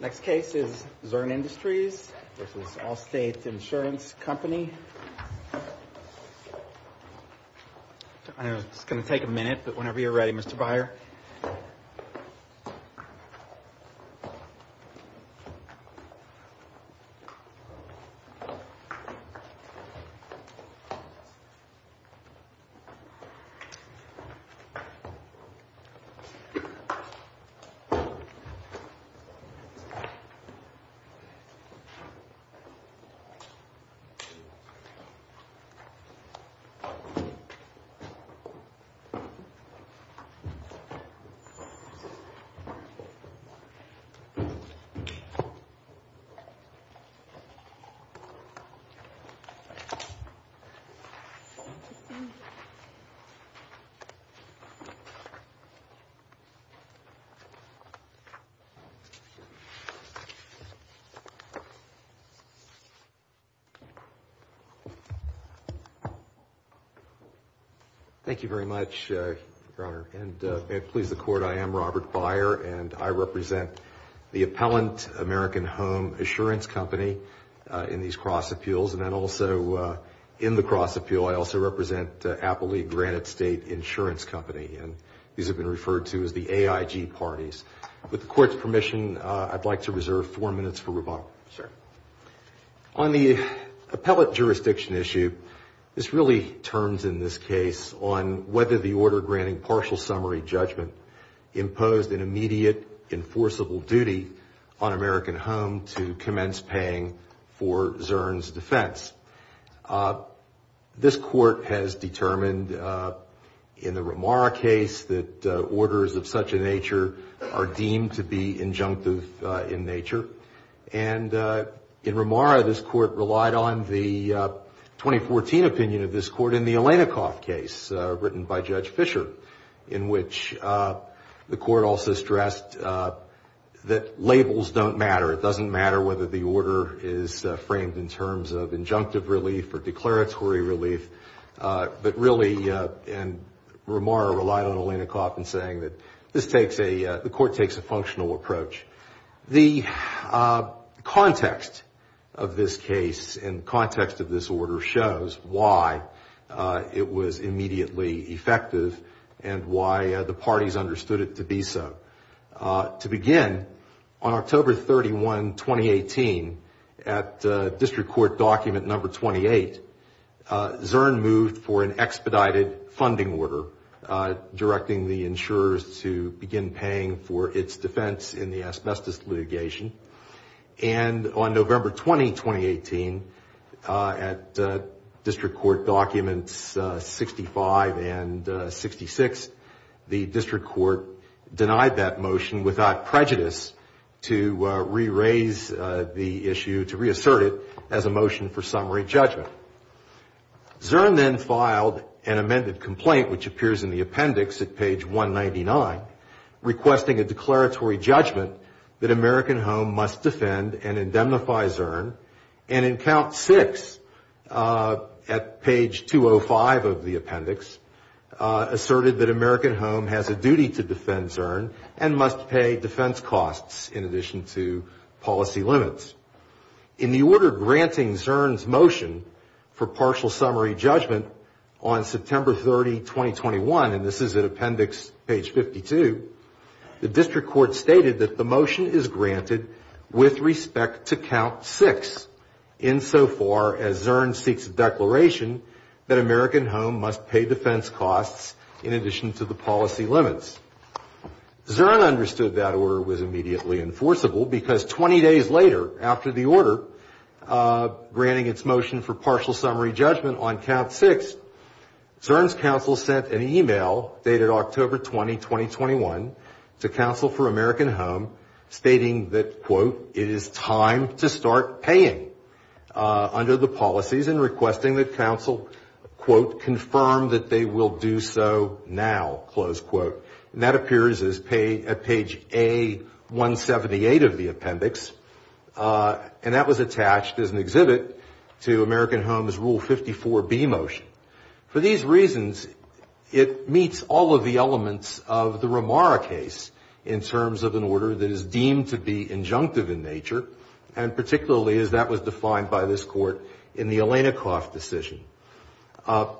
Next case is Zurn Industries v. Allstate Insurance Company. It's going to take a minute but whenever you're ready Mr. Beyer. Thank you very much, Your Honor, and may it please the Court, I am Robert Beyer and I represent the Appellant American Home Assurance Company in these cross appeals and then also in the cross appeal I also represent Appley Granite State Insurance Company and these have been referred to as the AIG parties. With the Court's permission, I'm going to ask Mr. Beyer to come up to the podium and give us a little bit of background on what's going on here. And I'd like to reserve four minutes for rebuttal. On the appellate jurisdiction issue, this really turns in this case on whether the order granting partial summary judgment imposed an immediate enforceable duty on American Home to commence paying for Zurn's defense. This Court has determined in the Romara case that orders of such a nature are deemed to be injunctive in nature and in Romara this Court relied on the 2014 opinion of this Court in the Alenikoff case written by Judge Fisher in which the Court also stressed that labels don't matter. It doesn't matter whether the order is framed in terms of injunctive relief or declaratory relief, but really Romara relied on Alenikoff in saying that the Court takes a functional approach. The context of this case and context of this order shows why it was immediately effective and why the parties understood it to be so. To begin, on October 31, 2018, at District Court document number 28, Zurn moved for an expedited funding order directing the insurers to begin paying for its defense in the asbestos litigation. And on November 20, 2018, at District Court documents 65 and 66, the District Court denied that motion without prejudice to re-raise the issue, to reassert it as a motion for summary judgment. Zurn then filed an amended complaint which appears in the appendix at page 199 requesting a declaratory judgment that American Home must defend and indemnify Zurn and in count six at page 205 of the appendix asserted that American Home has a duty to defend Zurn and must pay defense costs in addition to policy limits. In the order granting Zurn's motion for partial summary judgment on September 30, 2021, and this is at appendix page 52, the District Court stated that the motion is granted with respect to count six in so far as Zurn seeks a declaration that American Home must pay defense costs in addition to the policy limits. Zurn understood that order was immediately enforceable because 20 days later after the order granting its motion for partial summary judgment on count six, Zurn's counsel sent an e-mail dated October 20, 2021, to counsel for American Home stating that, quote, it is time to start paying under the policies and requesting that counsel, quote, confirm that they will do so now, close quote. And that appears at page A178 of the appendix, and that was attached as an exhibit to American Home's Rule 54B motion. For these reasons, it meets all of the elements of the Romara case in terms of an order that is deemed to be injunctive in nature, and particularly as that was defined by this court in the Alenikoff decision.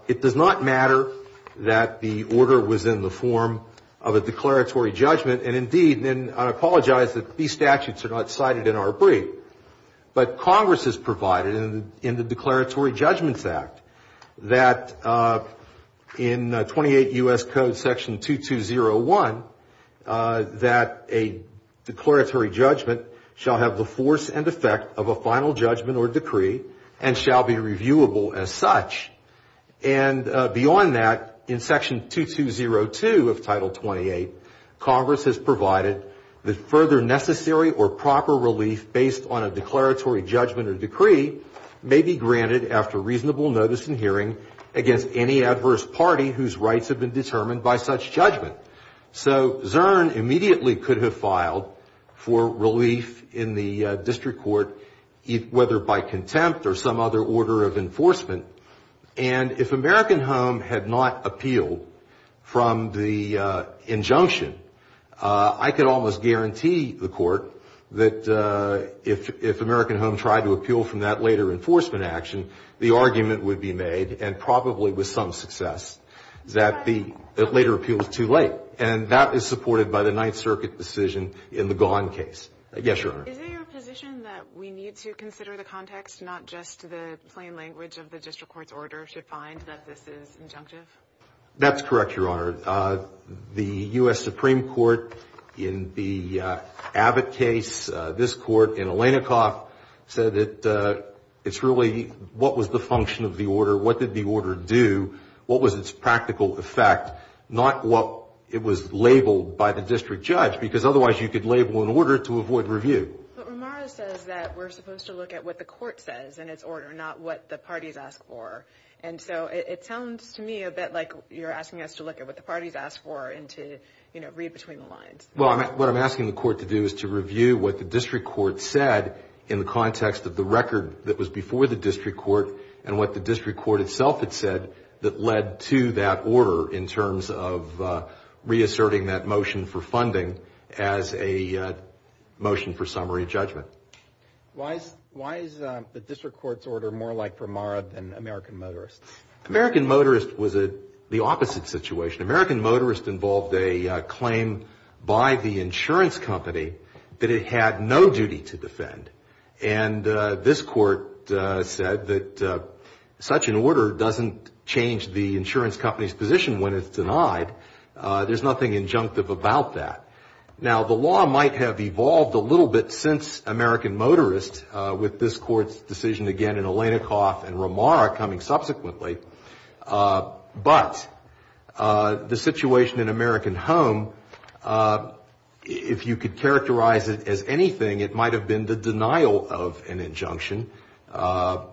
It does not matter that the order was in the form of a declaratory judgment, and indeed, and I apologize that these statutes are not cited in our brief, but Congress has provided in the Declaratory Judgments Act that in 28 U.S. Code section 2201 that a declaratory judgment shall have the force and effect of a final judgment or decree and shall be reviewable as such. And beyond that, in section 2202 of Title 28, Congress has provided that further necessary or proper relief based on a declaratory judgment or decree may be granted after reasonable notice and hearing against any adverse party whose rights have been determined by such judgment. So Zern immediately could have filed for relief in the district court, whether by contempt or some other order of enforcement, and if American Home had not appealed from the injunction, I could almost guarantee the court that if American Home tried to appeal from that later enforcement action, the argument would be made, and probably with some success, that the later appeal was too late. And that is supported by the Ninth Circuit decision in the Gone case. Yes, Your Honor. Is there a position that we need to consider the context, not just the plain language of the district court's order should find that this is injunctive? That's correct, Your Honor. The U.S. Supreme Court in the Abbott case, this court in Alenikoff, said that it's really what was the function of the order, what did the order do, what was its practical effect, not what it was labeled by the district judge, because otherwise you could label an order to avoid review. But Ramara says that we're supposed to look at what the court says in its order, not what the parties ask for. And so it sounds to me a bit like you're asking us to look at what the parties ask for and to, you know, read between the lines. Well, what I'm asking the court to do is to review what the district court said in the context of the record that was before the district court and what the district court itself had said that led to that order in terms of reasserting that motion for funding as a motion for summary judgment. Why is the district court's order more like Ramara than American Motorist's? American Motorist was the opposite situation. American Motorist involved a claim by the insurance company that it had no duty to defend. And this court said that such an order doesn't change the insurance company's position when it's denied. There's nothing injunctive about that. Now, the law might have evolved a little bit since American Motorist with this court's decision again in Alenikoff and Ramara coming subsequently. But the situation in American Home, if you could characterize it as anything, it might have been the denial of an injunction,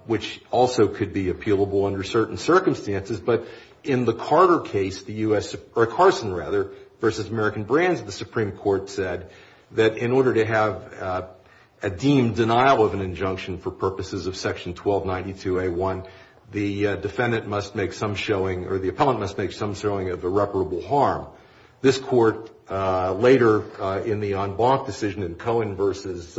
which also could be appealable under certain circumstances. But in the Carter case, the U.S. or Carson, rather, versus American Brands, the Supreme Court said that in order to have a deemed denial of an injunction for purposes of Section 1292A1, the defendant must make some showing or the appellant must make some showing of irreparable harm. This court, later in the en banc decision in Cohen versus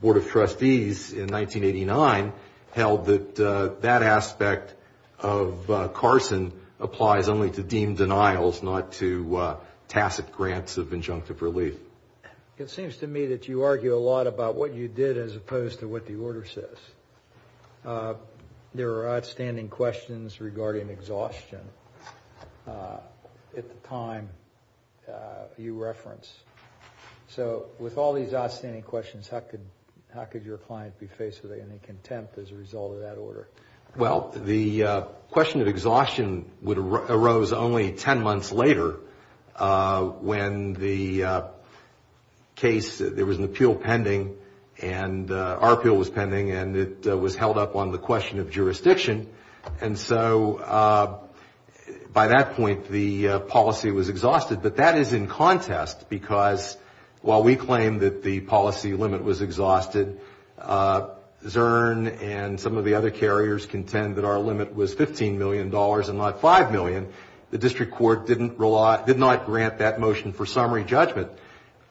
Board of Trustees in 1989, held that that aspect of Carson applies only to deemed denials, not to tacit grants of injunctive relief. It seems to me that you argue a lot about what you did as opposed to what the order says. There are outstanding questions regarding exhaustion at the time you reference. So with all these outstanding questions, how could your client be faced with any contempt as a result of that order? Well, the question of exhaustion arose only ten months later when the case, there was an appeal pending and our appeal was pending and it was held up on the question of jurisdiction. And so by that point, the policy was exhausted. But that is in contest because while we claim that the policy limit was exhausted, Zurn and some of the other carriers contend that our limit was $15 million and not $5 million. The district court did not grant that motion for summary judgment.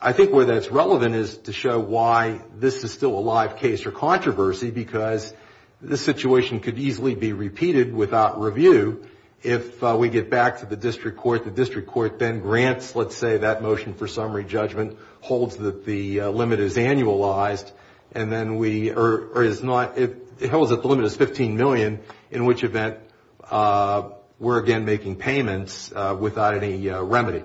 I think where that's relevant is to show why this is still a live case or controversy, because this situation could easily be repeated without review. If we get back to the district court, the district court then grants, let's say, that motion for summary judgment, holds that the limit is annualized. And then we, or it's not, it holds that the limit is $15 million, in which event we're again making payments without any remedy.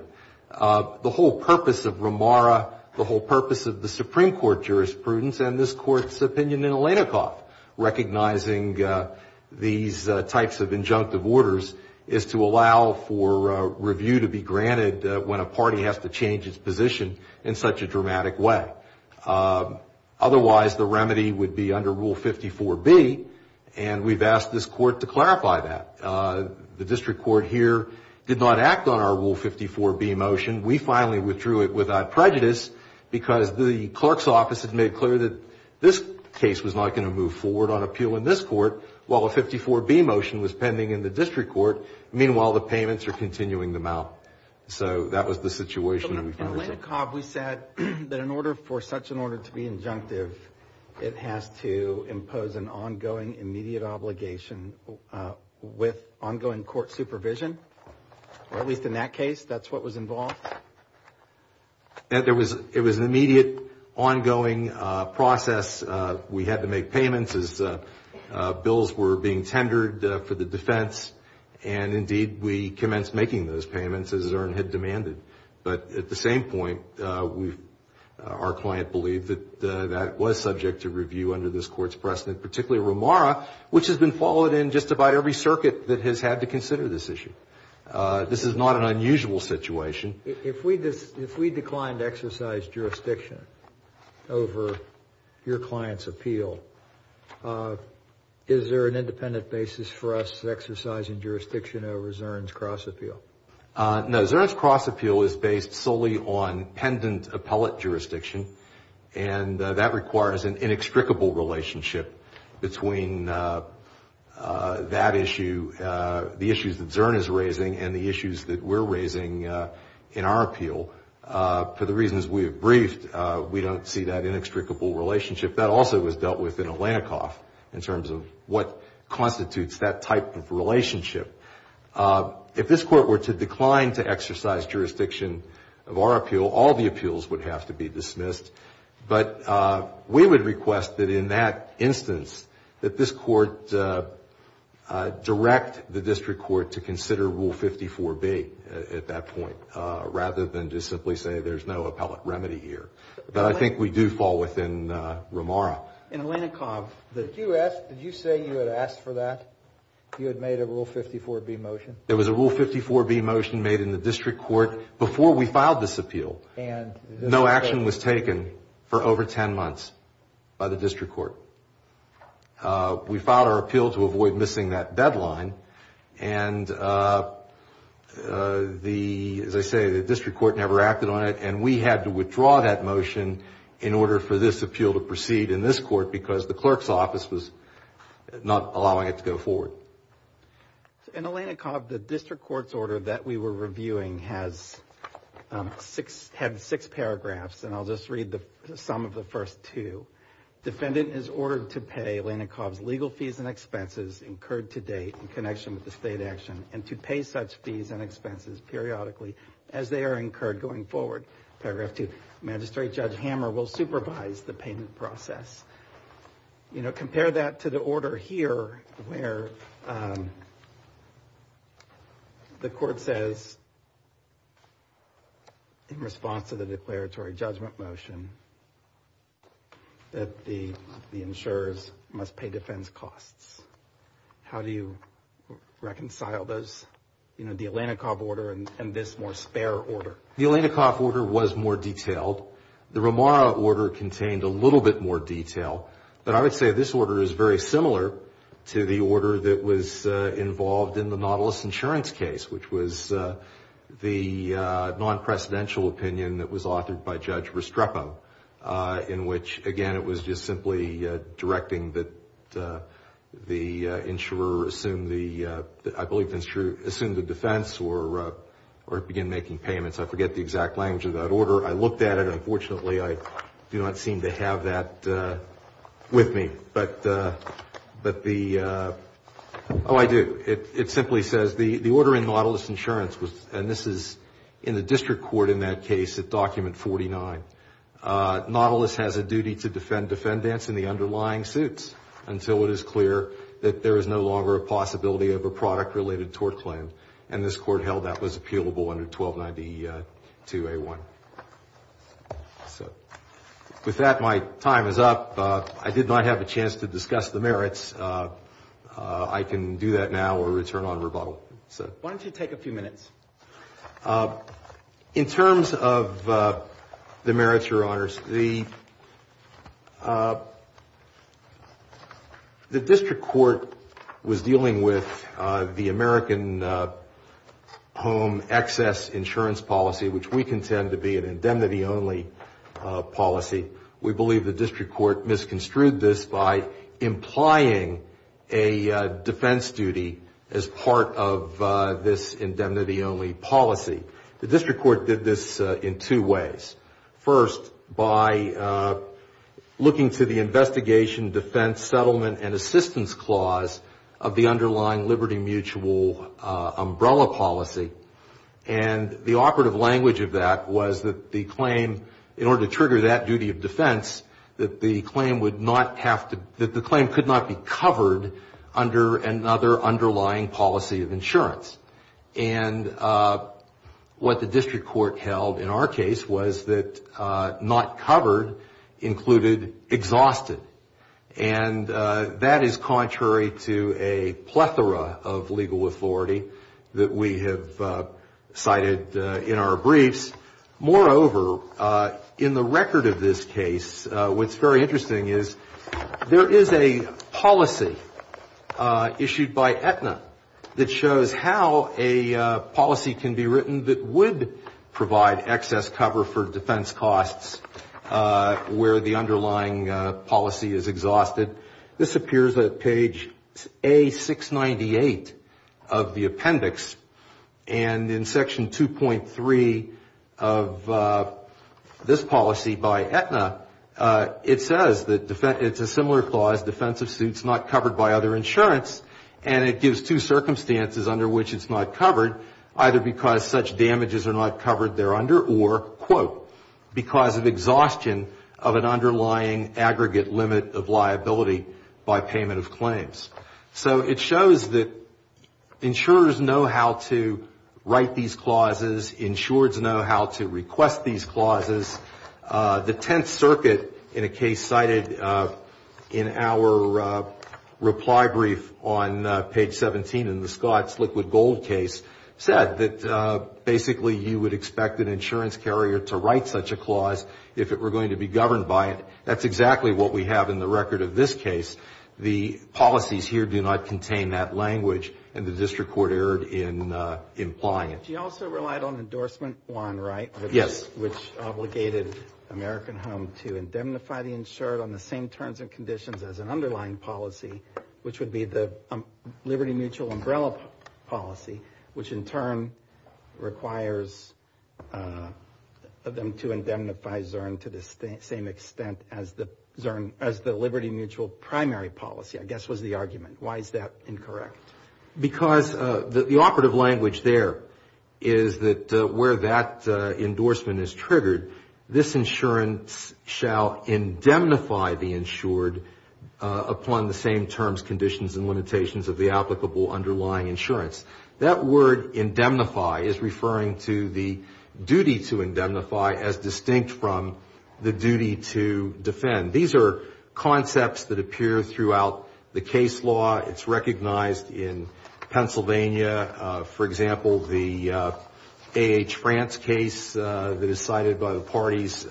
The whole purpose of Ramara, the whole purpose of the Supreme Court jurisprudence, and this court's opinion in Alenikoff, recognizing these types of injunctive orders, is to allow for review to be granted when a party has to change its position in such a dramatic way. Otherwise, the remedy would be under Rule 54B, and we've asked this court to clarify that. The district court here did not act on our Rule 54B motion. We finally withdrew it without prejudice, because the clerk's office had made clear that this case was not going to move forward on appeal in this court, while a 54B motion was pending in the district court. Meanwhile, the payments are continuing them out. So that was the situation that we found ourselves in. In Alenikoff, we said that in order for such an order to be injunctive, it has to impose an ongoing immediate obligation with ongoing court supervision. At least in that case, that's what was involved. It was an immediate, ongoing process. We had to make payments as bills were being tendered for the defense. And indeed, we commenced making those payments, as Zurn had demanded. But at the same point, our client believed that that was subject to review under this court's precedent, particularly Romara, which has been followed in just about every circuit that has had to consider this issue. This is not an unusual situation. If we declined to exercise jurisdiction over your client's appeal, is there an independent basis for us exercising jurisdiction over Zurn's cross appeal? No. Zurn's cross appeal is based solely on pendent appellate jurisdiction, and that requires an inextricable relationship between that issue, the issues that Zurn is raising, and the issues that we're raising in our appeal. For the reasons we have briefed, we don't see that inextricable relationship. That also was dealt with in Alenikoff in terms of what constitutes that type of relationship. If this court were to decline to exercise jurisdiction of our appeal, all the appeals would have to be dismissed. But we would request that in that instance, that this court direct the district court to consider Rule 54B at that point, rather than just simply say there's no appellate remedy here. But I think we do fall within Romara. Did you say you had asked for that, you had made a Rule 54B motion? There was a Rule 54B motion made in the district court before we filed this appeal. No action was taken for over 10 months by the district court. We filed our appeal to avoid missing that deadline, and as I say, the district court never acted on it, and we had to withdraw that motion in order for this appeal to proceed in this court, because the clerk's office was not allowing it to go forward. In Alenikoff, the district court's order that we were reviewing had six paragraphs, and I'll just read the sum of the first two. Defendant is ordered to pay Alenikoff's legal fees and expenses incurred to date in connection with the state action, and to pay such fees and expenses periodically as they are incurred going forward. Paragraph two, Magistrate Judge Hammer will supervise the payment process. You know, compare that to the order here, where the court says in response to the declaratory judgment motion that the insurers must pay defense costs. How do you reconcile those, you know, the Alenikoff order and this more spare order? The Alenikoff order was more detailed. The Romara order contained a little bit more detail, but I would say this order is very similar to the order that was involved in the Nautilus insurance case, which was the non-presidential opinion that was authored by Judge Restrepo, in which, again, it was just simply directing that the insurer assume the defense or begin making payments. I forget the exact language of that order. I looked at it. Unfortunately, I do not seem to have that with me, but the – oh, I do. It simply says the order in Nautilus insurance was – and this is in the district court in that case at document 49. Nautilus has a duty to defend defendants in the underlying suits until it is clear that there is no longer a possibility of a product-related tort claim, and this court held that was appealable under 1292A1. So with that, my time is up. I did not have a chance to discuss the merits. I can do that now or return on rebuttal. Why don't you take a few minutes? In terms of the merits, Your Honors, the district court was dealing with the American home excess insurance policy, which we contend to be an indemnity-only policy. We believe the district court misconstrued this by implying a defense duty as part of this indemnity-only policy. The district court did this in two ways. First, by looking to the investigation defense settlement and assistance clause of the underlying liberty mutual umbrella policy, and the operative language of that was that the claim – in order to trigger that duty of defense, that the claim would not have to – that the claim could not be covered under another underlying policy of insurance. And what the district court held in our case was that not covered included exhausted, and that is contrary to a plethora of legal authority that we have cited in our briefs. Moreover, in the record of this case, what's very interesting is there is a policy issued by Aetna that shows how a policy can be written that would provide excess cover for defense costs where the underlying policy is exhausted. This appears at page A698 of the appendix, and in section 2.3 of this policy by Aetna, it says that it's a similar clause, defensive suits not covered by other insurance, and it gives two circumstances under which it's not covered, either because such damages are not covered thereunder or, quote, because of exhaustion of an underlying aggregate limit of liability by payment of claims. So it shows that insurers know how to write these clauses, insureds know how to request these clauses. The Tenth Circuit, in a case cited in our reply brief on page 17 in the Scotts Liquid Gold case, said that basically you would expect an insurance carrier to write such a clause if it were going to be governed by it. That's exactly what we have in the record of this case. The policies here do not contain that language, and the district court erred in implying it. You also relied on Endorsement 1, right? Yes. Which obligated American Home to indemnify the insured on the same terms and conditions as an underlying policy, which would be the Liberty Mutual umbrella policy, which in turn requires them to indemnify Zurn to the same extent as the Liberty Mutual primary policy, I guess was the argument. Why is that incorrect? Because the operative language there is that where that endorsement is triggered, this insurance shall indemnify the insured upon the same terms, conditions, and limitations of the applicable underlying insurance. That word indemnify is referring to the duty to indemnify as distinct from the duty to defend. These are concepts that appear throughout the case law. It's recognized in Pennsylvania. For example, the A.H. France case that is cited by the parties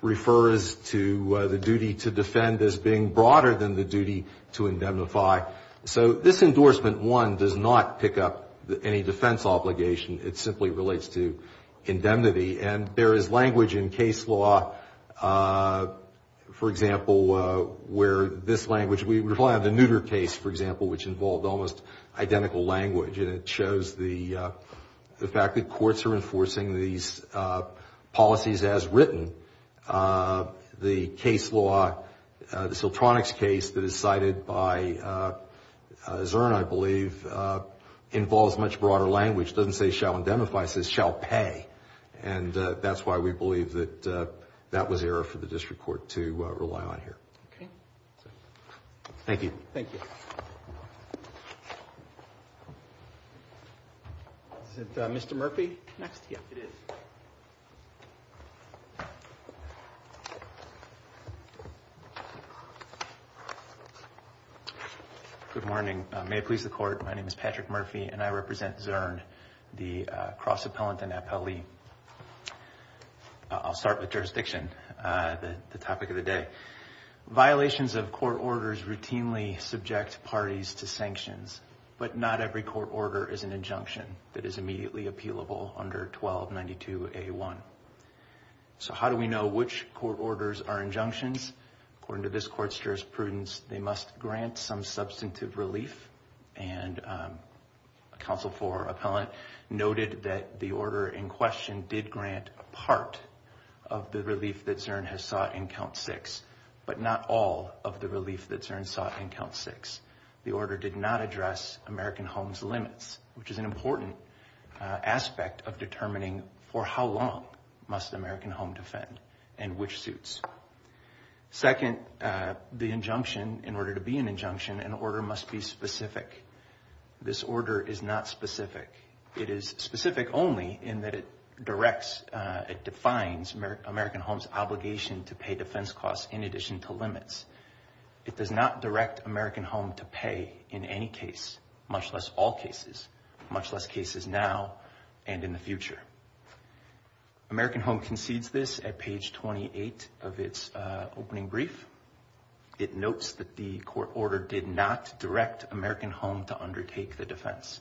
refers to the duty to defend as being broader than the duty to indemnify. So this Endorsement 1 does not pick up any defense obligation. It simply relates to indemnity. And there is language in case law, for example, where this language, we rely on the Nutter case, for example, which involved almost identical language, and it shows the fact that courts are enforcing these policies as written. The case law, the Siltronics case that is cited by Zurn, I believe, involves much broader language. It doesn't say shall indemnify. It says shall pay. And that's why we believe that that was error for the district court to rely on here. Okay. Thank you. Thank you. Is it Mr. Murphy next? Yes, it is. Good morning. May it please the Court. My name is Patrick Murphy, and I represent Zurn, the cross-appellant and appellee. I'll start with jurisdiction, the topic of the day. Violations of court orders routinely subject parties to sanctions, but not every court order is an injunction that is immediately appealable under 1292A1. So how do we know which court orders are injunctions? According to this court's jurisprudence, they must grant some substantive relief, and a Council 4 appellant noted that the order in question did grant part of the relief that Zurn has sought in Count 6, but not all of the relief that Zurn sought in Count 6. The order did not address American homes' limits, which is an important aspect of determining for how long must American home defend and which suits. Second, the injunction, in order to be an injunction, an order must be specific. This order is not specific. It is specific only in that it directs, it defines American homes' obligation to pay defense costs in addition to limits. It does not direct American home to pay in any case, much less all cases, much less cases now and in the future. American home concedes this at page 28 of its opening brief. It notes that the court order did not direct American home to undertake the defense.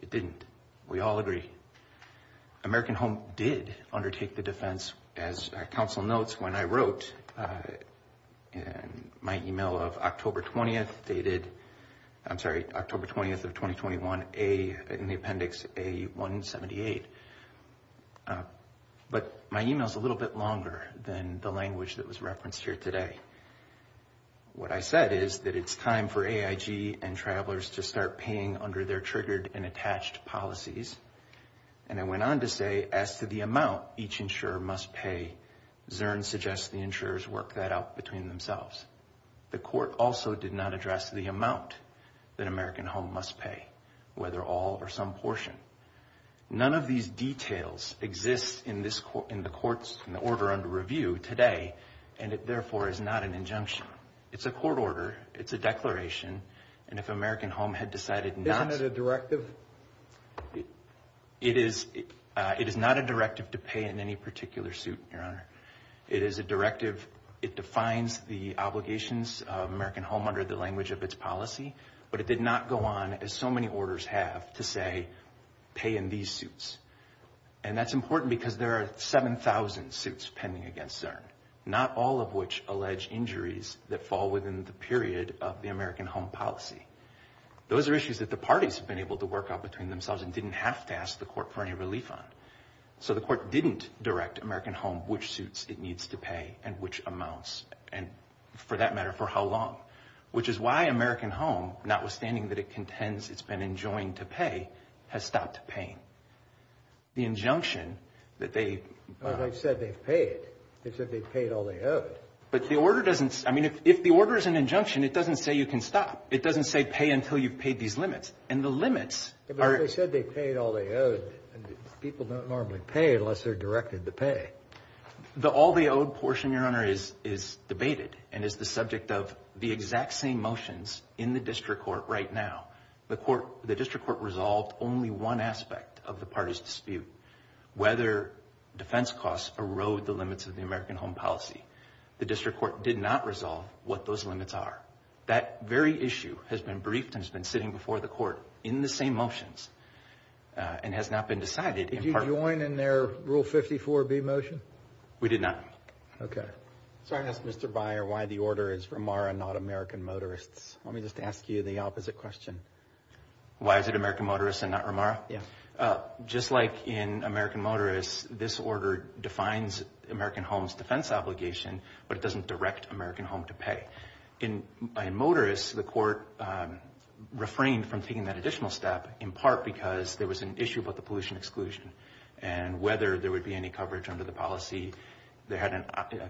It didn't. We all agree. American home did undertake the defense. As Council notes, when I wrote in my email of October 20th, dated, I'm sorry, October 20th of 2021, in the appendix A-178, but my email is a little bit longer than the language that was referenced here today. What I said is that it's time for AIG and travelers to start paying under their triggered and attached policies. And I went on to say, as to the amount each insurer must pay, Zurn suggests the insurers work that out between themselves. The court also did not address the amount that American home must pay, whether all or some portion. None of these details exist in this court, in the courts, in the order under review today, and it therefore is not an injunction. It's a court order. It's a declaration. And if American home had decided not. Isn't it a directive? It is. It is not a directive to pay in any particular suit, Your Honor. It is a directive. It defines the obligations of American home under the language of its policy. But it did not go on, as so many orders have, to say, pay in these suits. And that's important because there are 7000 suits pending against Zurn. Not all of which allege injuries that fall within the period of the American home policy. Those are issues that the parties have been able to work out between themselves and didn't have to ask the court for any relief on. So the court didn't direct American home which suits it needs to pay and which amounts, and for that matter, for how long. Which is why American home, notwithstanding that it contends it's been enjoined to pay, has stopped paying. The injunction that they. They've said they've paid. They've said they've paid all they owed. But the order doesn't. I mean, if the order is an injunction, it doesn't say you can stop. It doesn't say pay until you've paid these limits. And the limits. They said they paid all they owed. People don't normally pay unless they're directed to pay. The all they owed portion, Your Honor, is is debated and is the subject of the exact same motions in the district court right now. The court, the district court, resolved only one aspect of the party's dispute. Whether defense costs erode the limits of the American home policy. The district court did not resolve what those limits are. That very issue has been briefed and has been sitting before the court in the same motions and has not been decided. Did you join in their rule 54 B motion? We did not. OK, so I asked Mr. Byer why the order is for Mara, not American motorists. Let me just ask you the opposite question. Why is it American motorists and not Ramara? Just like in American motorists, this order defines American homes defense obligation, but it doesn't direct American home to pay in motorists. So the court refrained from taking that additional step in part because there was an issue about the pollution exclusion and whether there would be any coverage under the policy. They had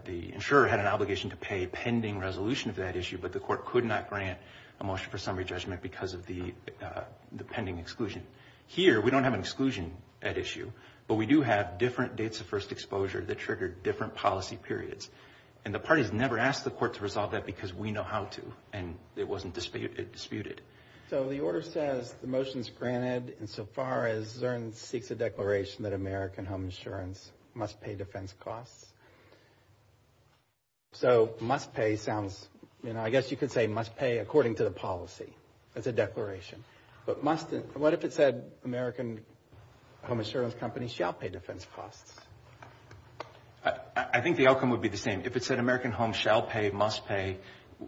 the insurer had an obligation to pay pending resolution of that issue. But the court could not grant a motion for summary judgment because of the pending exclusion here. We don't have an exclusion at issue, but we do have different dates of first exposure that triggered different policy periods. And the parties never asked the court to resolve that because we know how to and it wasn't disputed. So the order says the motion is granted insofar as Zurn seeks a declaration that American home insurance must pay defense costs. So must pay sounds, you know, I guess you could say must pay according to the policy. That's a declaration. But must, what if it said American home insurance companies shall pay defense costs? I think the outcome would be the same. If it said American home shall pay, must pay,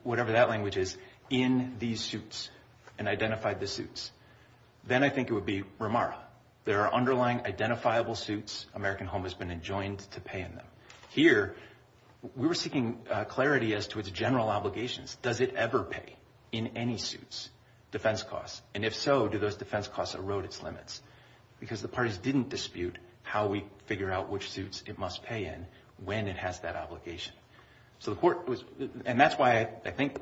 whatever that language is in these suits and identified the suits, then I think it would be remark. There are underlying identifiable suits. American home has been enjoined to pay in them here. We were seeking clarity as to its general obligations. Does it ever pay in any suits defense costs? And if so, do those defense costs erode its limits? Because the parties didn't dispute how we figure out which suits it must pay in when it has that obligation. So the court was, and that's why I think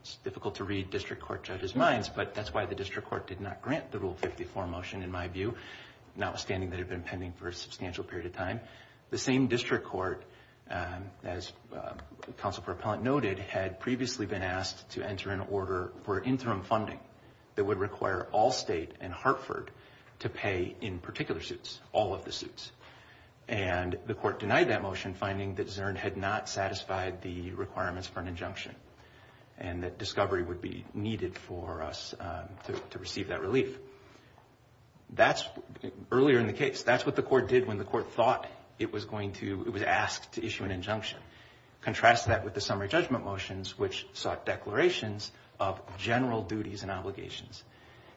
it's difficult to read district court judges' minds, but that's why the district court did not grant the Rule 54 motion in my view, notwithstanding that it had been pending for a substantial period of time. The same district court, as Counsel for Appellant noted, had previously been asked to enter an order for interim funding that would require all state and Hartford to pay in particular suits, all of the suits. And the court denied that motion, finding that Zurn had not satisfied the requirements for an injunction and that discovery would be needed for us to receive that relief. That's, earlier in the case, that's what the court did when the court thought it was going to, it was asked to issue an injunction. Contrast that with the summary judgment motions, which sought declarations of general duties and obligations.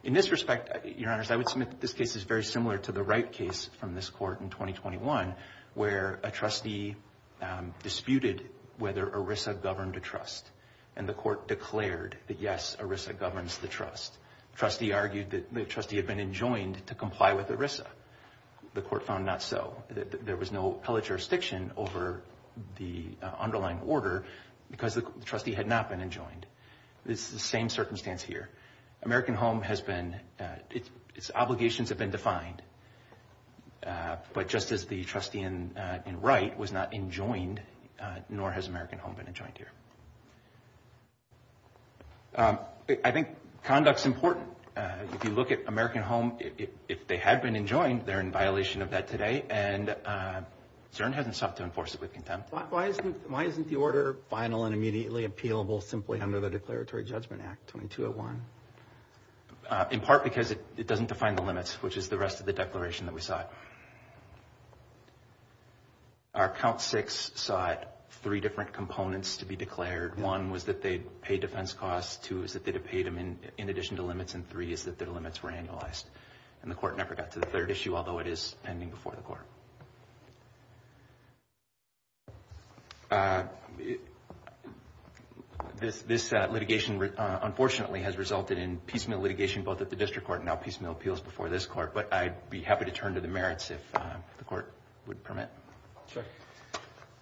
In this respect, Your Honors, I would submit that this case is very similar to the Wright case from this court in 2021, where a trustee disputed whether ERISA governed a trust, and the court declared that yes, ERISA governs the trust. The trustee argued that the trustee had been enjoined to comply with ERISA. The court found not so. There was no appellate jurisdiction over the underlying order because the trustee had not been enjoined. It's the same circumstance here. American Home has been, its obligations have been defined. But just as the trustee in Wright was not enjoined, nor has American Home been enjoined here. I think conduct's important. If you look at American Home, if they had been enjoined, they're in violation of that today. And CERN hasn't sought to enforce it with contempt. Why isn't the order final and immediately appealable simply under the Declaratory Judgment Act 2201? In part because it doesn't define the limits, which is the rest of the declaration that we sought. Our count six sought three different components to be declared. One was that they'd pay defense costs. Two is that they'd have paid them in addition to limits. And three is that their limits were annualized. And the court never got to the third issue, although it is pending before the court. This litigation, unfortunately, has resulted in piecemeal litigation both at the district court and now piecemeal appeals before this court. But I'd be happy to turn to the merits if the court would permit. Sure.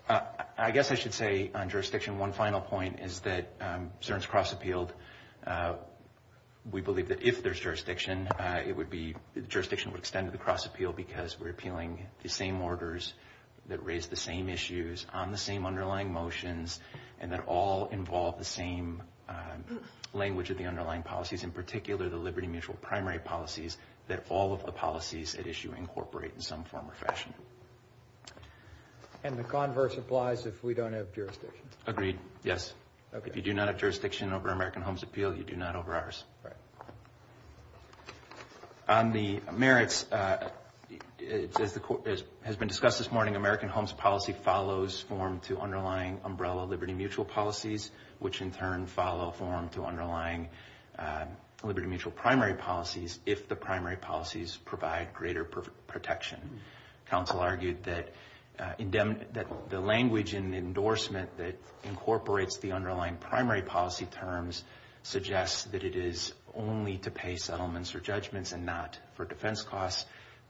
I guess I should say on jurisdiction, one final point is that CERN's cross-appealed. We believe that if there's jurisdiction, it would be – the jurisdiction would extend to the cross-appeal because we're appealing the same orders that raise the same issues on the same underlying motions and that all involve the same language of the underlying policies, in particular the liberty-mutual primary policies that all of the policies at issue incorporate in some form or fashion. And the converse applies if we don't have jurisdiction. Agreed, yes. If you do not have jurisdiction over American Homes Appeal, you do not over ours. Right. On the merits, it says the court has been discussed this morning. American Homes Policy follows form to underlying umbrella liberty-mutual policies, which in turn follow form to underlying liberty-mutual primary policies if the primary policies provide greater protection. Counsel argued that the language in endorsement that incorporates the underlying primary policy terms suggests that it is only to pay settlements or judgments and not for defense costs.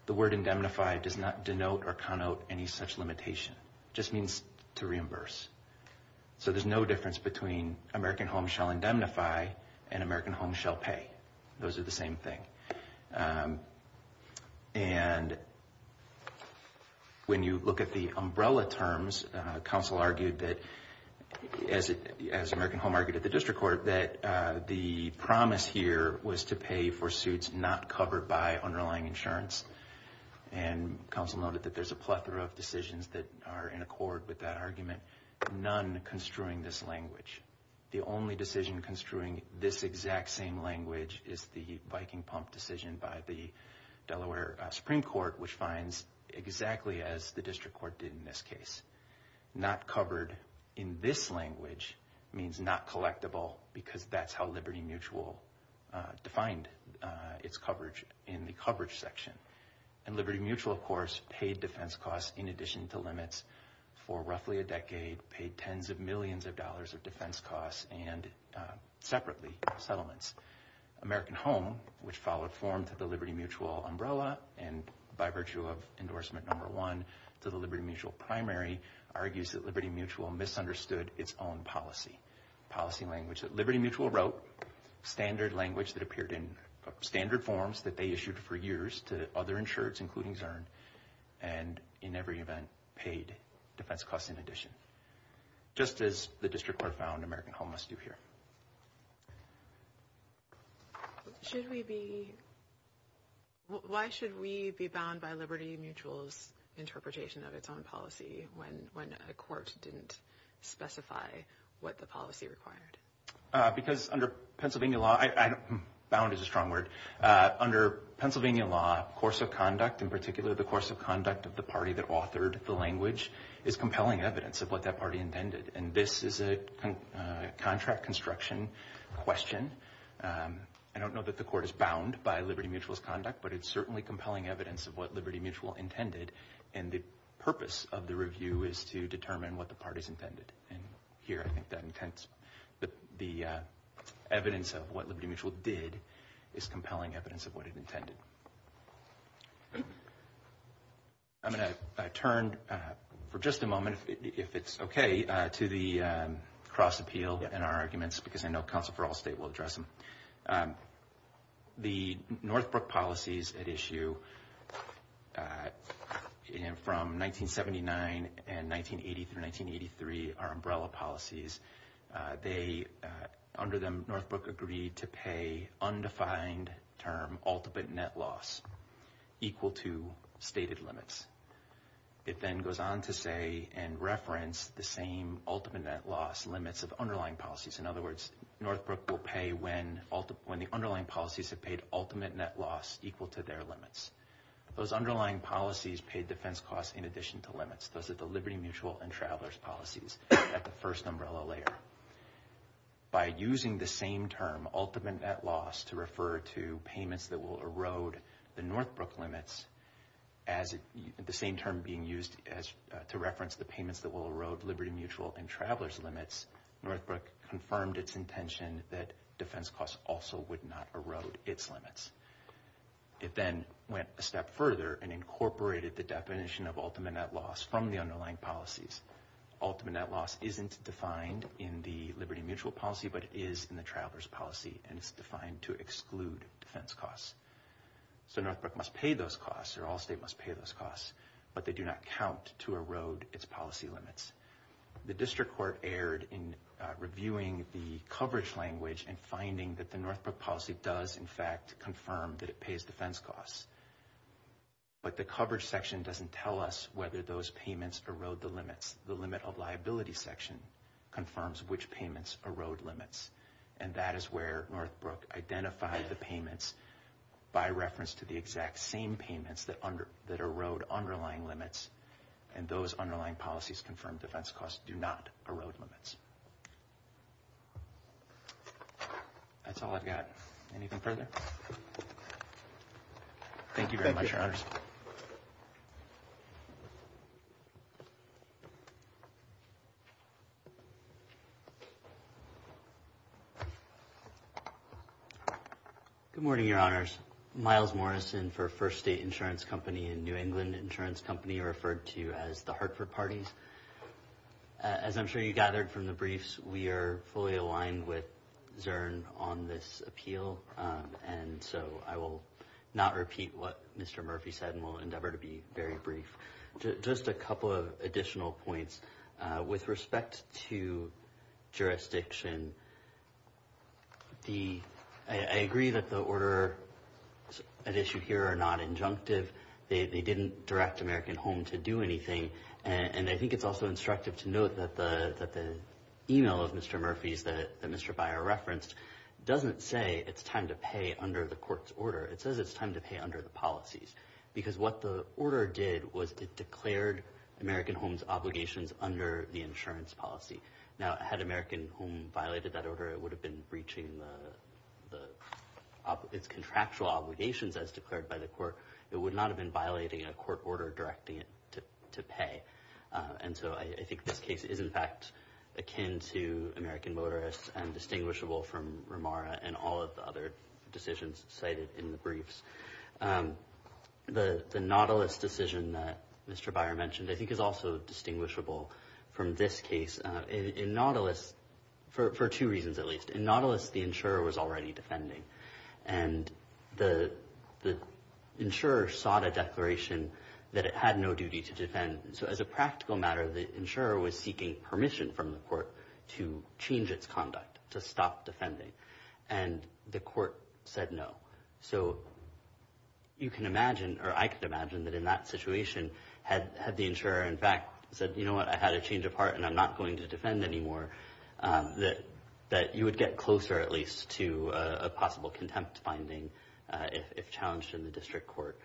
The word indemnify does not denote or connote any such limitation. It just means to reimburse. So there's no difference between American Homes shall indemnify and American Homes shall pay. Those are the same thing. And when you look at the umbrella terms, counsel argued that, as American Home argued at the district court, that the promise here was to pay for suits not covered by underlying insurance. And counsel noted that there's a plethora of decisions that are in accord with that argument, none construing this language. The only decision construing this exact same language is the Viking Pump decision by the Delaware Supreme Court, which finds exactly as the district court did in this case. Not covered in this language means not collectible because that's how liberty-mutual defined its coverage in the coverage section. And liberty-mutual, of course, paid defense costs in addition to limits for roughly a decade, paid tens of millions of dollars of defense costs and separately settlements. American Home, which followed form to the liberty-mutual umbrella and by virtue of endorsement number one to the liberty-mutual primary, argues that liberty-mutual misunderstood its own policy, policy language that liberty-mutual wrote, standard language that appeared in standard forms that they issued for years to other insureds, including Zurn, and in every event paid defense costs in addition. Just as the district court found American Home must do here. Why should we be bound by liberty-mutual's interpretation of its own policy when a court didn't specify what the policy required? Because under Pennsylvania law, bound is a strong word. Under Pennsylvania law, course of conduct, in particular the course of conduct of the party that authored the language, is compelling evidence of what that party intended. And this is a contract construction question. I don't know that the court is bound by liberty-mutual's conduct, but it's certainly compelling evidence of what liberty-mutual intended. And the purpose of the review is to determine what the parties intended. And here I think that the evidence of what liberty-mutual did is compelling evidence of what it intended. I'm going to turn for just a moment, if it's okay, to the cross-appeal in our arguments, because I know Counsel for All State will address them. The Northbrook policies at issue from 1979 and 1980 through 1983 are umbrella policies. Under them, Northbrook agreed to pay undefined term ultimate net loss equal to stated limits. It then goes on to say and reference the same ultimate net loss limits of underlying policies. In other words, Northbrook will pay when the underlying policies have paid ultimate net loss equal to their limits. Those underlying policies paid defense costs in addition to limits. Those are the liberty-mutual and traveler's policies at the first umbrella layer. By using the same term, ultimate net loss, to refer to payments that will erode the Northbrook limits, the same term being used to reference the payments that will erode liberty-mutual and traveler's limits, Northbrook confirmed its intention that defense costs also would not erode its limits. It then went a step further and incorporated the definition of ultimate net loss from the underlying policies. Ultimate net loss isn't defined in the liberty-mutual policy, but it is in the traveler's policy, and it's defined to exclude defense costs. So Northbrook must pay those costs, or Allstate must pay those costs, but they do not count to erode its policy limits. The district court erred in reviewing the coverage language and finding that the Northbrook policy does, in fact, confirm that it pays defense costs. But the coverage section doesn't tell us whether those payments erode the limits. The limit of liability section confirms which payments erode limits, and that is where Northbrook identified the payments by reference to the exact same payments that erode underlying limits, and those underlying policies confirm defense costs do not erode limits. That's all I've got. Anything further? Thank you very much, Your Honors. Good morning, Your Honors. Miles Morrison for First State Insurance Company and New England Insurance Company, referred to as the Hartford parties. As I'm sure you gathered from the briefs, we are fully aligned with Zurn on this appeal, and so I will not repeat what Mr. Murphy said and will endeavor to be very brief. Just a couple of additional points with respect to jurisdiction. I agree that the order at issue here are not injunctive. They didn't direct American Home to do anything, and I think it's also instructive to note that the email of Mr. Murphy's that Mr. Byer referenced doesn't say it's time to pay under the court's order. It says it's time to pay under the policies, because what the order did was it declared American Home's obligations under the insurance policy. Now, had American Home violated that order, it would have been breaching its contractual obligations as declared by the court. It would not have been violating a court order directing it to pay, and so I think this case is, in fact, akin to American Motorists and distinguishable from Ramara and all of the other decisions cited in the briefs. The Nautilus decision that Mr. Byer mentioned I think is also distinguishable from this case. In Nautilus, for two reasons at least, in Nautilus the insurer was already defending, and the insurer sought a declaration that it had no duty to defend. So as a practical matter, the insurer was seeking permission from the court to change its conduct, to stop defending, and the court said no. So you can imagine, or I can imagine, that in that situation, had the insurer in fact said, you know what, I had a change of heart and I'm not going to defend anymore, that you would get closer at least to a possible contempt finding if challenged in the district court.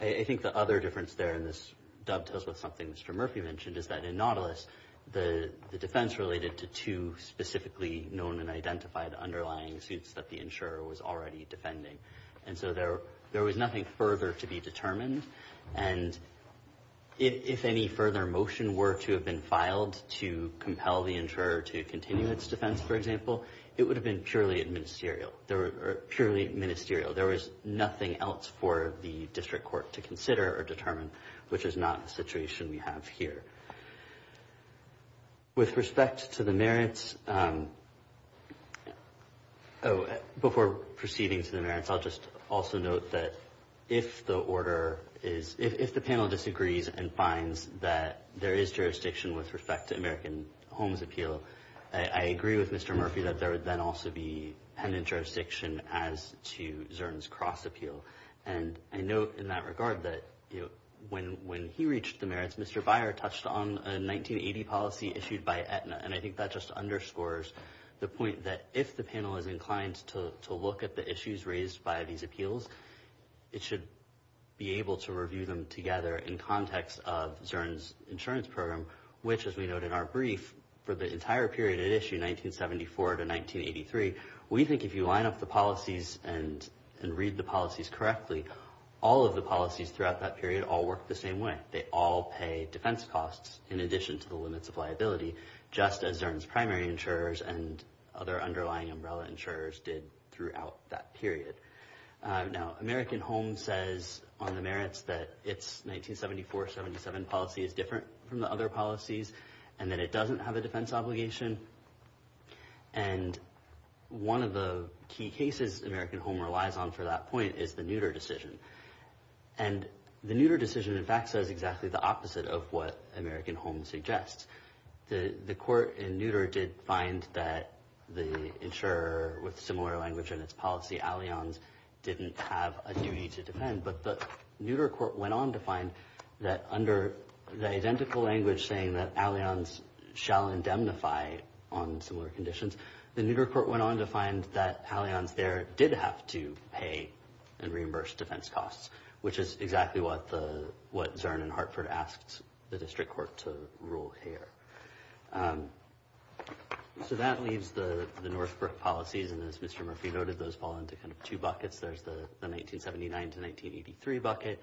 I think the other difference there, and this dovetails with something Mr. Murphy mentioned, is that in Nautilus the defense related to two specifically known and identified underlying suits that the insurer was already defending. And so there was nothing further to be determined, and if any further motion were to have been filed to compel the insurer to continue its defense, for example, it would have been purely ministerial. There was nothing else for the district court to consider or determine, which is not the situation we have here. With respect to the merits, oh, before proceeding to the merits, I'll just also note that if the order is, if the panel disagrees and finds that there is jurisdiction with respect to American Homes Appeal, I agree with Mr. Murphy that there would then also be pendant jurisdiction as to Zurn's Cross Appeal. And I note in that regard that when he reached the merits, Mr. Byer touched on a 1980 policy issued by Aetna, and I think that just underscores the point that if the panel is inclined to look at the issues raised by these appeals, it should be able to review them together in context of Zurn's insurance program, which, as we note in our brief, for the entire period it issued, 1974 to 1983, we think if you line up the policies and read the policies correctly, all of the policies throughout that period all work the same way. They all pay defense costs in addition to the limits of liability, just as Zurn's primary insurers and other underlying umbrella insurers did throughout that period. Now, American Homes says on the merits that its 1974-77 policy is different from the other policies, and that it doesn't have a defense obligation. And one of the key cases American Homes relies on for that point is the Nutter decision. And the Nutter decision, in fact, says exactly the opposite of what American Homes suggests. The court in Nutter did find that the insurer with similar language in its policy, Allianz, didn't have a duty to defend. But the Nutter court went on to find that under the identical language saying that Allianz shall indemnify on similar conditions, the Nutter court went on to find that Allianz there did have to pay and reimburse defense costs, which is exactly what Zurn and Hartford asked the district court to rule here. So that leaves the Northbrook policies, and as Mr. Murphy noted, those fall into two buckets. There's the 1979-1983 bucket,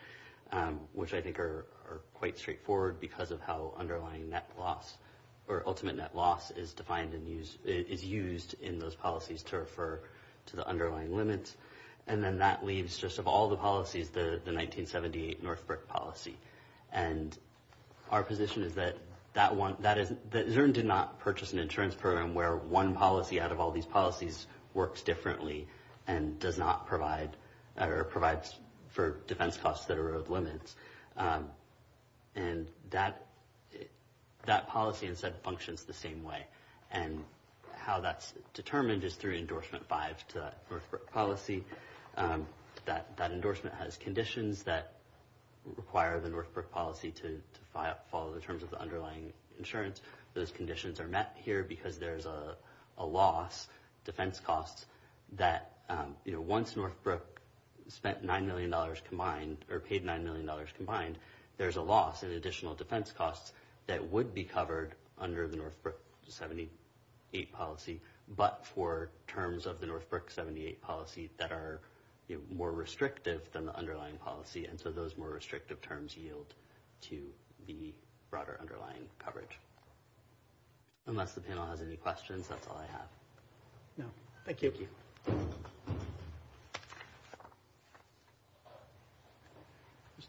which I think are quite straightforward because of how underlying net loss, or ultimate net loss, is used in those policies to refer to the underlying limits. And then that leaves, just of all the policies, the 1978 Northbrook policy. And our position is that Zurn did not purchase an insurance program where one policy out of all these policies works differently and does not provide, or provides for defense costs that are of limits. And that policy, instead, functions the same way. And how that's determined is through Endorsement 5 to that Northbrook policy. That endorsement has conditions that require the Northbrook policy to follow the terms of the underlying insurance. Those conditions are met here because there's a loss, defense costs, that once Northbrook spent $9 million combined, or paid $9 million combined, there's a loss in additional defense costs that would be covered under the Northbrook 78 policy, but for terms of the Northbrook 78 policy that are more restrictive than the underlying policy. And so those more restrictive terms yield to the broader underlying coverage. Unless the panel has any questions, that's all I have. Thank you. Ms.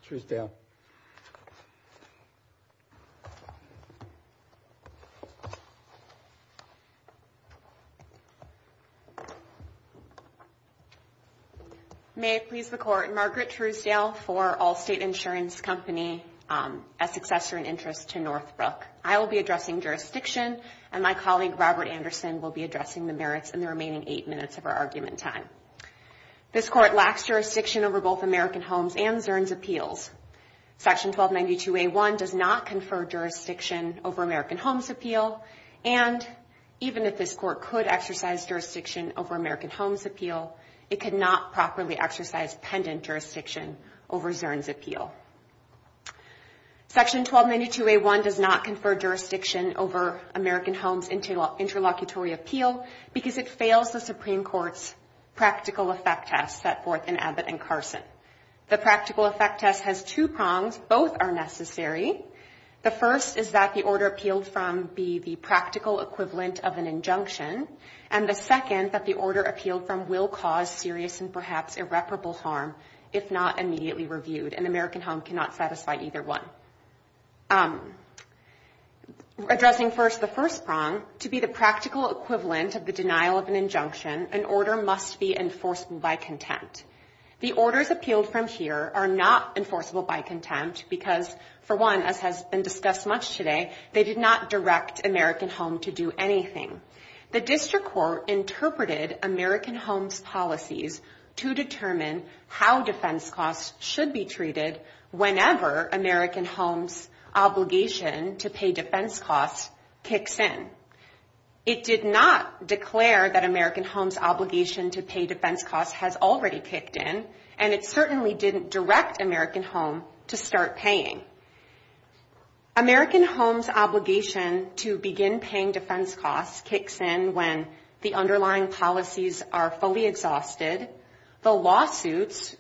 Truesdale. May it please the Court, Margaret Truesdale for Allstate Insurance Company, a successor in interest to Northbrook. I will be addressing jurisdiction, and my colleague Robert Anderson will be addressing the merits in the remaining eight minutes of our argument time. This Court lacks jurisdiction over both American Homes and Zurn's appeals. Section 1292A1 does not confer jurisdiction over American Homes appeal, and even if this Court could exercise jurisdiction over American Homes appeal, it could not properly exercise pendant jurisdiction over Zurn's appeal. Section 1292A1 does not confer jurisdiction over American Homes interlocutory appeal, because it fails the Supreme Court's practical effect test set forth in Abbott and Carson. The practical effect test has two prongs. Both are necessary. The first is that the order appealed from be the practical equivalent of an injunction, and the second that the order appealed from will cause serious and perhaps irreparable harm if not immediately reviewed, and the American Home cannot satisfy either one. Addressing first the first prong, to be the practical equivalent of the denial of an injunction, an order must be enforceable by contempt. The orders appealed from here are not enforceable by contempt, because, for one, as has been discussed much today, they did not direct American Home to do anything. The District Court interpreted American Homes policies to determine how defense costs should be treated whenever American Homes' obligation to pay defense costs kicks in. It did not declare that American Homes' obligation to pay defense costs has already kicked in, and it certainly didn't direct American Home to start paying. American Homes' obligation to begin paying defense costs kicks in when the underlying policies are fully exhausted. The lawsuits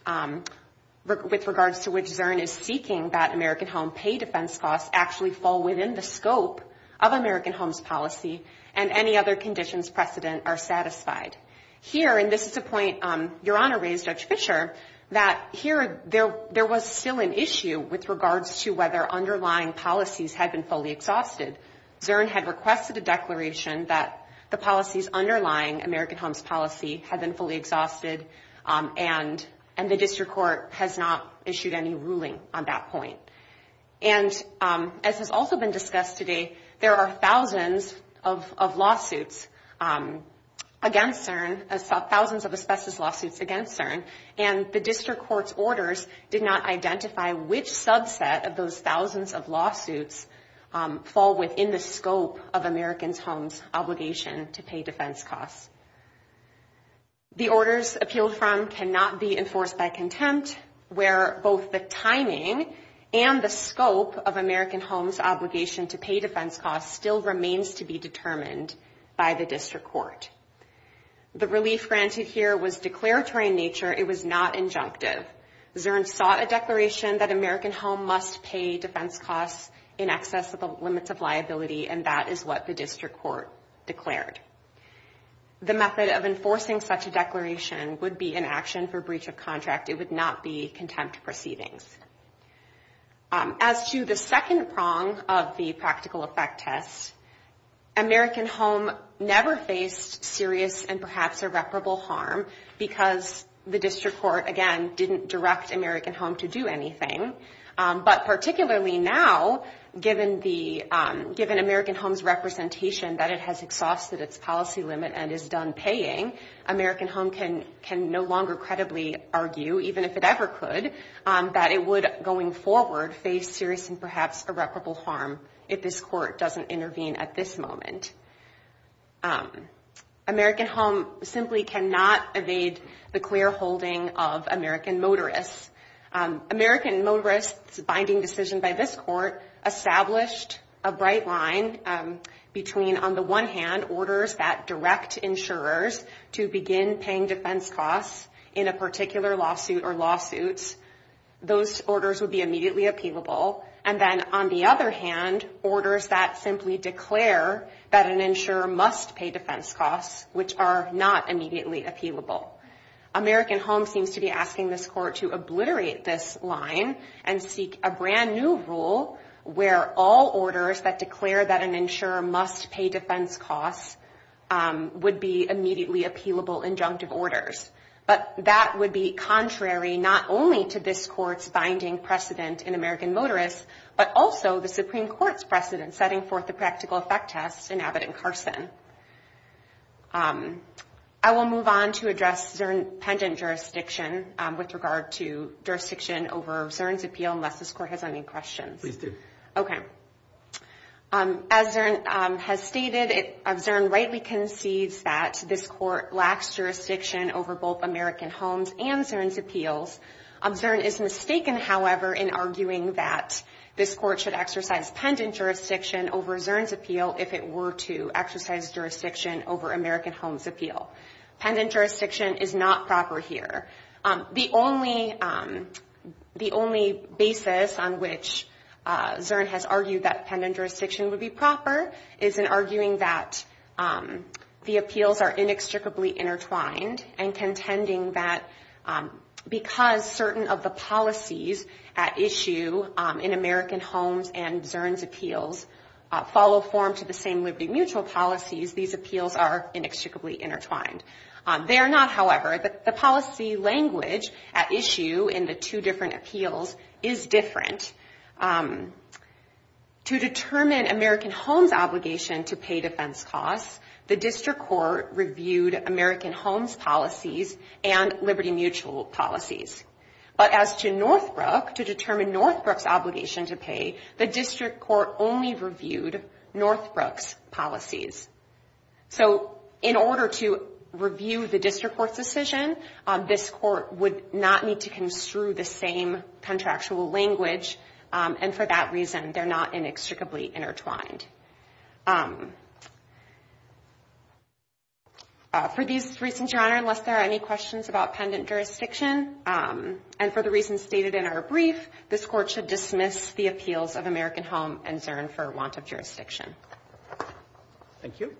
with regards to which Zurn is seeking that American Home pay defense costs actually fall within the scope of American Homes' policy, and any other conditions precedent are satisfied. Here, and this is a point Your Honor raised, Judge Fischer, that here there was still an issue with regards to the underlying policies had been fully exhausted. Zurn had requested a declaration that the policies underlying American Homes' policy had been fully exhausted, and the District Court has not issued any ruling on that point. And as has also been discussed today, there are thousands of lawsuits against Zurn, thousands of asbestos lawsuits against Zurn, and the District Court's orders did not identify which subset of those thousands of lawsuits fall within the scope of American Homes' obligation to pay defense costs. The orders appealed from cannot be enforced by contempt, where both the timing and the scope of American Homes' obligation to pay defense costs still remains to be determined by the District Court. The relief granted here was declaratory in nature. It was not injunctive. Zurn sought a declaration that American Home must pay defense costs in excess of the limits of liability, and that is what the District Court declared. The method of enforcing such a declaration would be inaction for breach of contract. It would not be contempt proceedings. As to the second prong of the practical effect test, American Home never faced serious and perhaps irreparable harm because the District Court, again, didn't direct American Home to do anything. But particularly now, given American Home's representation that it has exhausted its policy limit and is done paying, American Home can no longer credibly argue, even if it ever could, that it would going forward face serious and perhaps irreparable harm if this Court doesn't intervene at this moment. American Home simply cannot evade the clear holding of American Motorists. American Motorists' binding decision by this Court established a bright line between, on the one hand, orders that direct insurers to begin paying defense costs in a particular lawsuit or lawsuits. Those orders would be immediately appealable. And then, on the other hand, orders that simply declare that a insurer must pay defense costs, which are not immediately appealable. American Home seems to be asking this Court to obliterate this line and seek a brand new rule where all orders that declare that an insurer must pay defense costs would be immediately appealable injunctive orders. But that would be contrary not only to this Court's binding precedent in American Motorists, but also the Supreme Court's precedent setting forth the practical effect test in Abbott and Carson. I will move on to address Zurn pendant jurisdiction with regard to jurisdiction over Zurn's appeal, unless this Court has any questions. As Zurn has stated, Zurn rightly concedes that this Court lacks jurisdiction over both American Homes and Zurn's appeals. Zurn is mistaken, however, in arguing that this Court should exercise pendant jurisdiction over Zurn's appeal if it were to exercise jurisdiction over American Homes' appeal. Pendant jurisdiction is not proper here. The only basis on which Zurn has argued that pendant jurisdiction would be proper is in arguing that the appeals are inextricably intertwined, and contending that because certain of the policies at issue in American Homes and Zurn's appeals follow form to the same Liberty Mutual policies, these appeals are inextricably intertwined. They are not, however. The policy language at issue in the two different appeals is different. To determine American Homes' obligation to pay defense costs, the District Court would have to determine if the District Court reviewed American Homes' policies and Liberty Mutual policies. But as to Northbrook, to determine Northbrook's obligation to pay, the District Court only reviewed Northbrook's policies. So in order to review the District Court's decision, this Court would not need to construe the same contractual language, and for that reason they're not inextricably intertwined. For these reasons, Your Honor, unless there are any questions about pendant jurisdiction, and for the reasons stated in our brief, this Court should dismiss the appeals of American Homes and Zurn for want of jurisdiction. Thank you.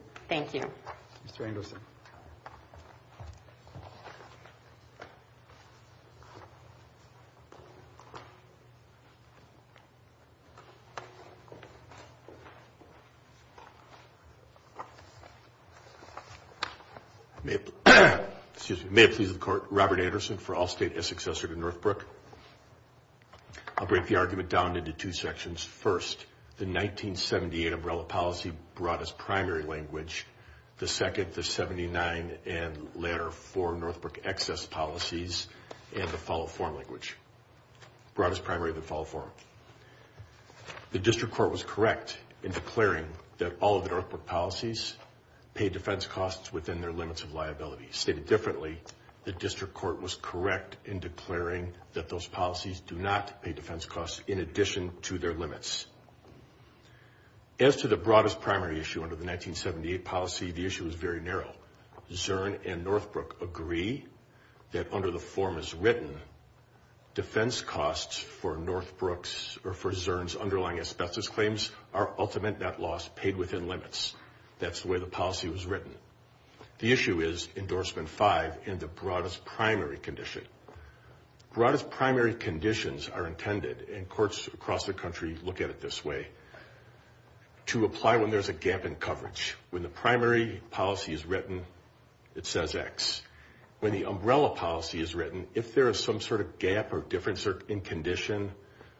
May it please the Court, Robert Anderson for Allstate as successor to Northbrook. I'll break the argument down into two sections. First, the 1978 umbrella policy brought as primary language, the second, the 79, and later four Northbrook excess policies, and the follow form language. Brought as primary, the follow form. The District Court was correct in declaring that all of the Northbrook policies pay defense costs within their limits of liability. Stated differently, the District Court was correct in declaring that those policies do not pay defense costs in addition to their limits. As to the brought as primary issue under the 1978 policy, the issue is very narrow. Zurn and Northbrook agree that under the form as written, defense costs for Northbrook are $1.5 million. And for Northbrook, or for Zurn's underlying asbestos claims, are ultimate net loss paid within limits. That's the way the policy was written. The issue is endorsement five in the brought as primary condition. Brought as primary conditions are intended, and courts across the country look at it this way, to apply when there's a gap in coverage. When the primary policy is written, it says X. When the umbrella policy is written, if there is some sort of gap or difference in condition,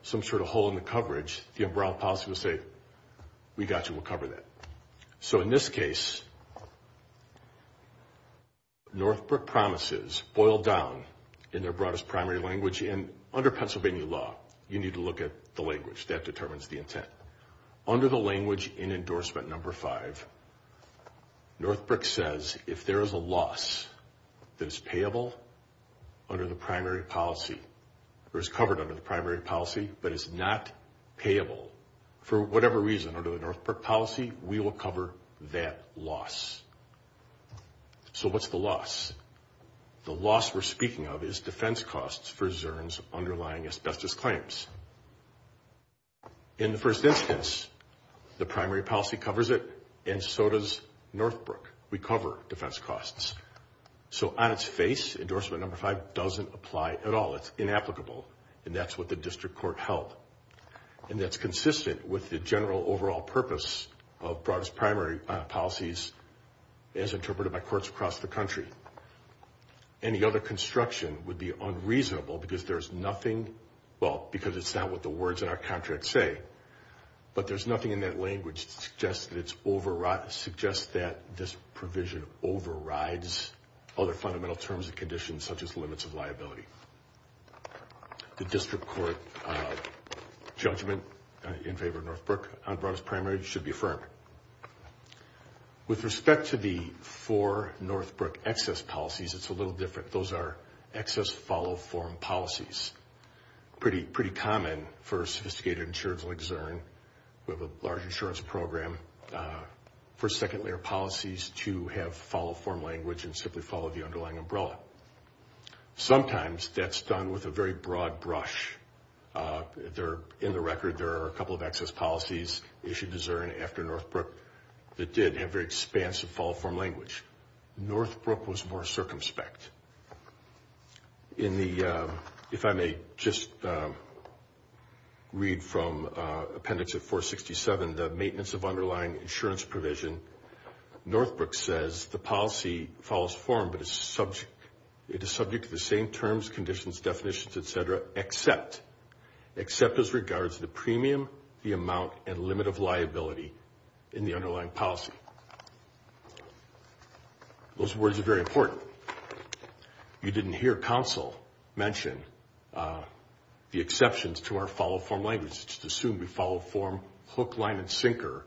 some sort of hole in the coverage, the umbrella policy will say, we got you, we'll cover that. So in this case, Northbrook promises boil down in their brought as primary language, and under Pennsylvania law, you need to look at the language. That determines the intent. Under the language in endorsement number five, Northbrook says, if there is a loss that is payable under the primary policy, or is covered under the primary policy, but is not payable, for whatever reason, under the Northbrook policy, we will cover that loss. So what's the loss? The loss we're speaking of is defense costs for Zurn's underlying asbestos claims. In the first instance, the primary policy covers it, and so does Northbrook. We cover defense costs. So on its face, endorsement number five doesn't apply at all. It's inapplicable, and that's what the district court held, and that's consistent with the general overall purpose of broadest primary policies, as interpreted by courts across the country. Any other construction would be unreasonable, because there's nothing, well, because it's not what the words in our contract say, but there's nothing in that language that suggests that this provision overrides other fundamental terms and conditions, such as limits of liability. The district court judgment in favor of Northbrook on broadest primary should be affirmed. With respect to the four Northbrook excess policies, it's a little different. Those are excess follow-form policies, pretty common for a sophisticated insurance like Zurn. We have a large insurance program for second-layer policies to have follow-form language and simply follow the underlying umbrella. Sometimes that's done with a very broad brush. In the record, there are a couple of excess policies issued to Zurn after Northbrook that did have very expansive follow-form language. Northbrook was more circumspect. In the, if I may just read from appendix of 467, the maintenance of underlying insurance provision, Northbrook says the policy follows form, but it's subject to a broad umbrella. It is subject to the same terms, conditions, definitions, et cetera, except as regards to the premium, the amount, and limit of liability in the underlying policy. Those words are very important. You didn't hear counsel mention the exceptions to our follow-form language. Let's just assume we follow form, hook, line, and sinker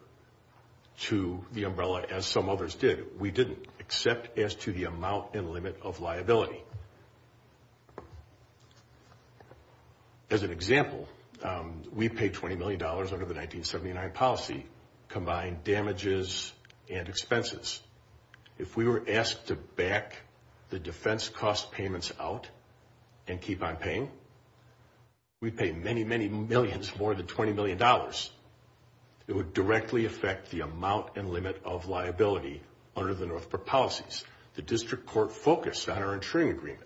to the umbrella as some others did. We didn't, except as to the amount and limit of liability. As an example, we paid $20 million under the 1979 policy, combined damages and expenses. If we were asked to back the defense cost payments out and keep on paying, we'd pay many, many millions more than we would have to pay. If we were asked to pay more than $20 million, it would directly affect the amount and limit of liability under the Northbrook policies. The district court focused on our insuring agreement.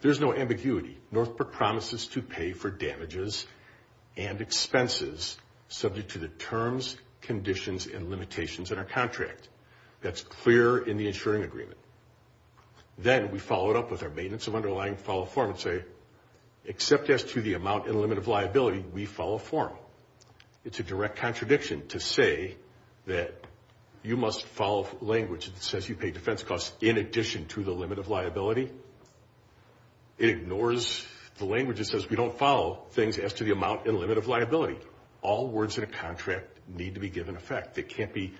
There's no ambiguity. Northbrook promises to pay for damages and expenses subject to the terms, conditions, and limitations in our contract. That's clear in the insuring agreement. Then we follow it up with our maintenance of underlying file form and say, except as to the amount and limit of liability, we follow form. It's a direct contradiction to say that you must follow language that says you pay defense costs in addition to the limit of liability. It ignores the language that says we don't follow things as to the amount and limit of liability. All words in a contract need to be given effect. They can't be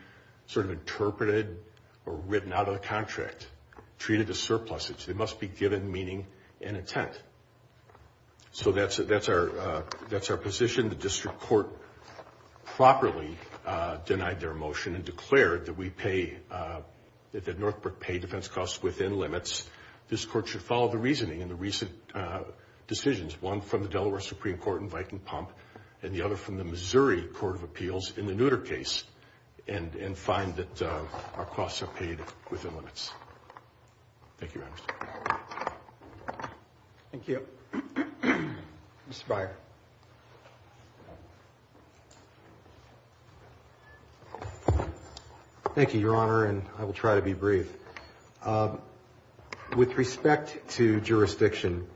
sort of interpreted or written out of the contract, treated as surpluses. They must be given meaning and intent. So that's our position. The district court properly denied their motion and declared that Northbrook pay defense costs within limits. This court should follow the reasoning in the recent decisions, one from the Delaware Supreme Court in Viking Pump and the other from the Missouri Court of Appeals in the Nutter case, and find that our costs are paid within limits. Thank you, Your Honor. Thank you, Your Honor, and I will try to be brief. With respect to jurisdiction,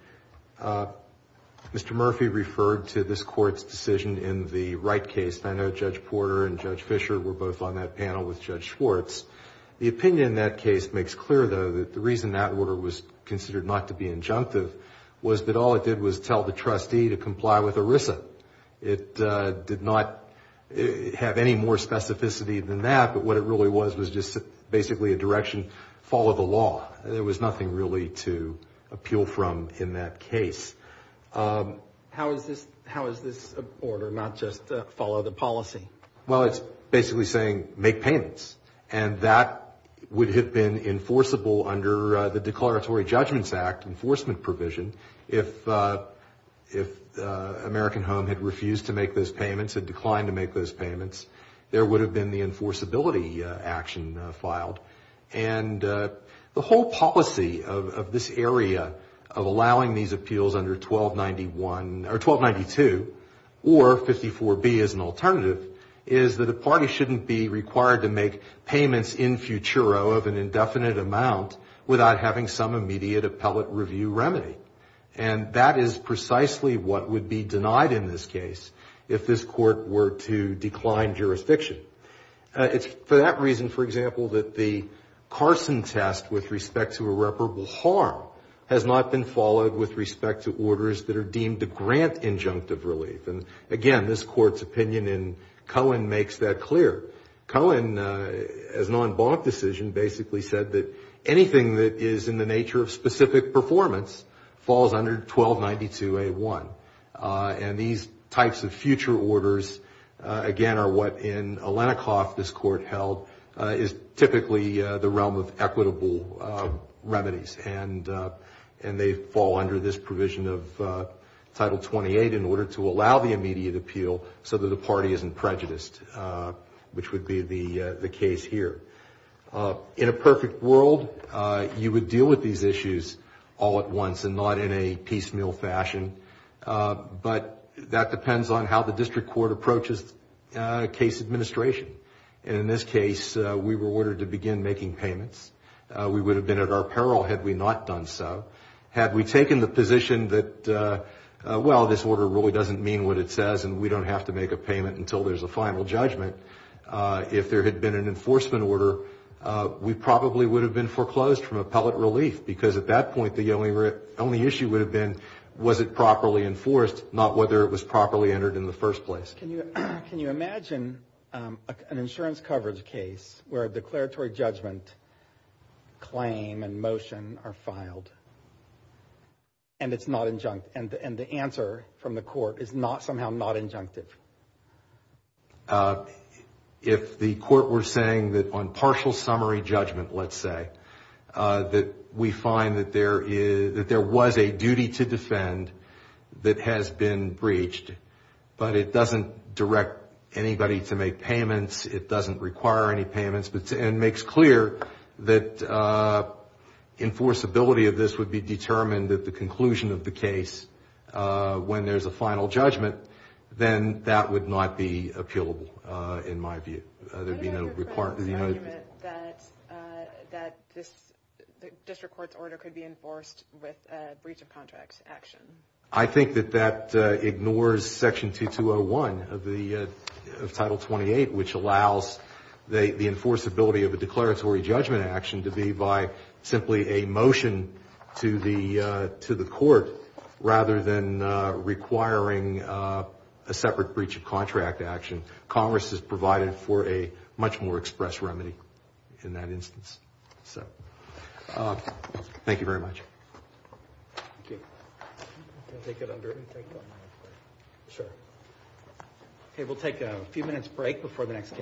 Mr. Murphy referred to this Court's decision in the Wright case. And I know Judge Porter and Judge Fischer were both on that panel with Judge Schwartz. The opinion in that case makes clear, though, that the reason that order was considered not to be injunctive was that all it did was tell the trustee to comply with ERISA. It did not have any more specificity than that, but what it really was was just basically a direction to follow the law. There was nothing really to appeal from in that case. How is this order not just follow the policy? Well, it's basically saying make payments. And that would have been enforceable under the Declaratory Judgments Act enforcement provision if American Home had refused to make those payments, had declined to make those payments, there would have been the enforceability action filed. And the whole policy of this area, of allowing these appeals under 1291, or 1292, or 54B as an alternative, is that a party shouldn't be required to make payments in futuro of an indefinite amount without having some immediate appellate review remedy. And that is precisely what would be denied in this case if this court were to decline jurisdiction. It's for that reason, for example, that the Carson test with respect to irreparable harm has not been followed with respect to orders that are deemed to grant injunctive relief. And again, this Court's opinion in Cohen makes that clear. Cohen, as an en banc decision, basically said that anything that is in the nature of specific performance falls under 1292A1. And these types of future orders, again, are what in Alenikoff this Court held, is typically the realm of equitable remedies. And they fall under this provision of Title 28 in order to allow the immediate appeal so that the party isn't prejudiced, which would be the case here. In a perfect world, you would deal with these issues all at once and not in a piecemeal fashion. But that depends on how the district court approaches case administration. And in this case, we were ordered to begin making payments. We would have been at our peril had we not done so. Had we taken the position that, well, this order really doesn't mean what it says and we don't have to make a payment until there's a final judgment, if there had been an enforcement order, we probably would have been foreclosed from appellate relief. Because at that point, the only issue would have been was it properly enforced, not whether it was properly entered in the first place. Can you imagine an insurance coverage case where a declaratory judgment claim and motion are filed and it's not injunct and the answer from the court is somehow not injunctive? If the court were saying that on partial summary judgment, let's say, that we find that there was a duty to defend that has been breached, but it doesn't direct anybody to make payments, it doesn't require any payments, and makes clear that enforceability of this would be determined that the conclusion of the case, when there's a final judgment, then that would not be appealable, in my view. What if you're saying that this district court's order could be enforced with a breach of contract action? I think that that ignores Section 2201 of Title 28, which allows the enforceability of a declaratory judgment action to be by simply a motion to the court, rather than requiring a separate breach of contract action. Congress has provided for a much more express remedy in that instance. Thank you very much. Thank you. We'll take a few minutes break before the next case.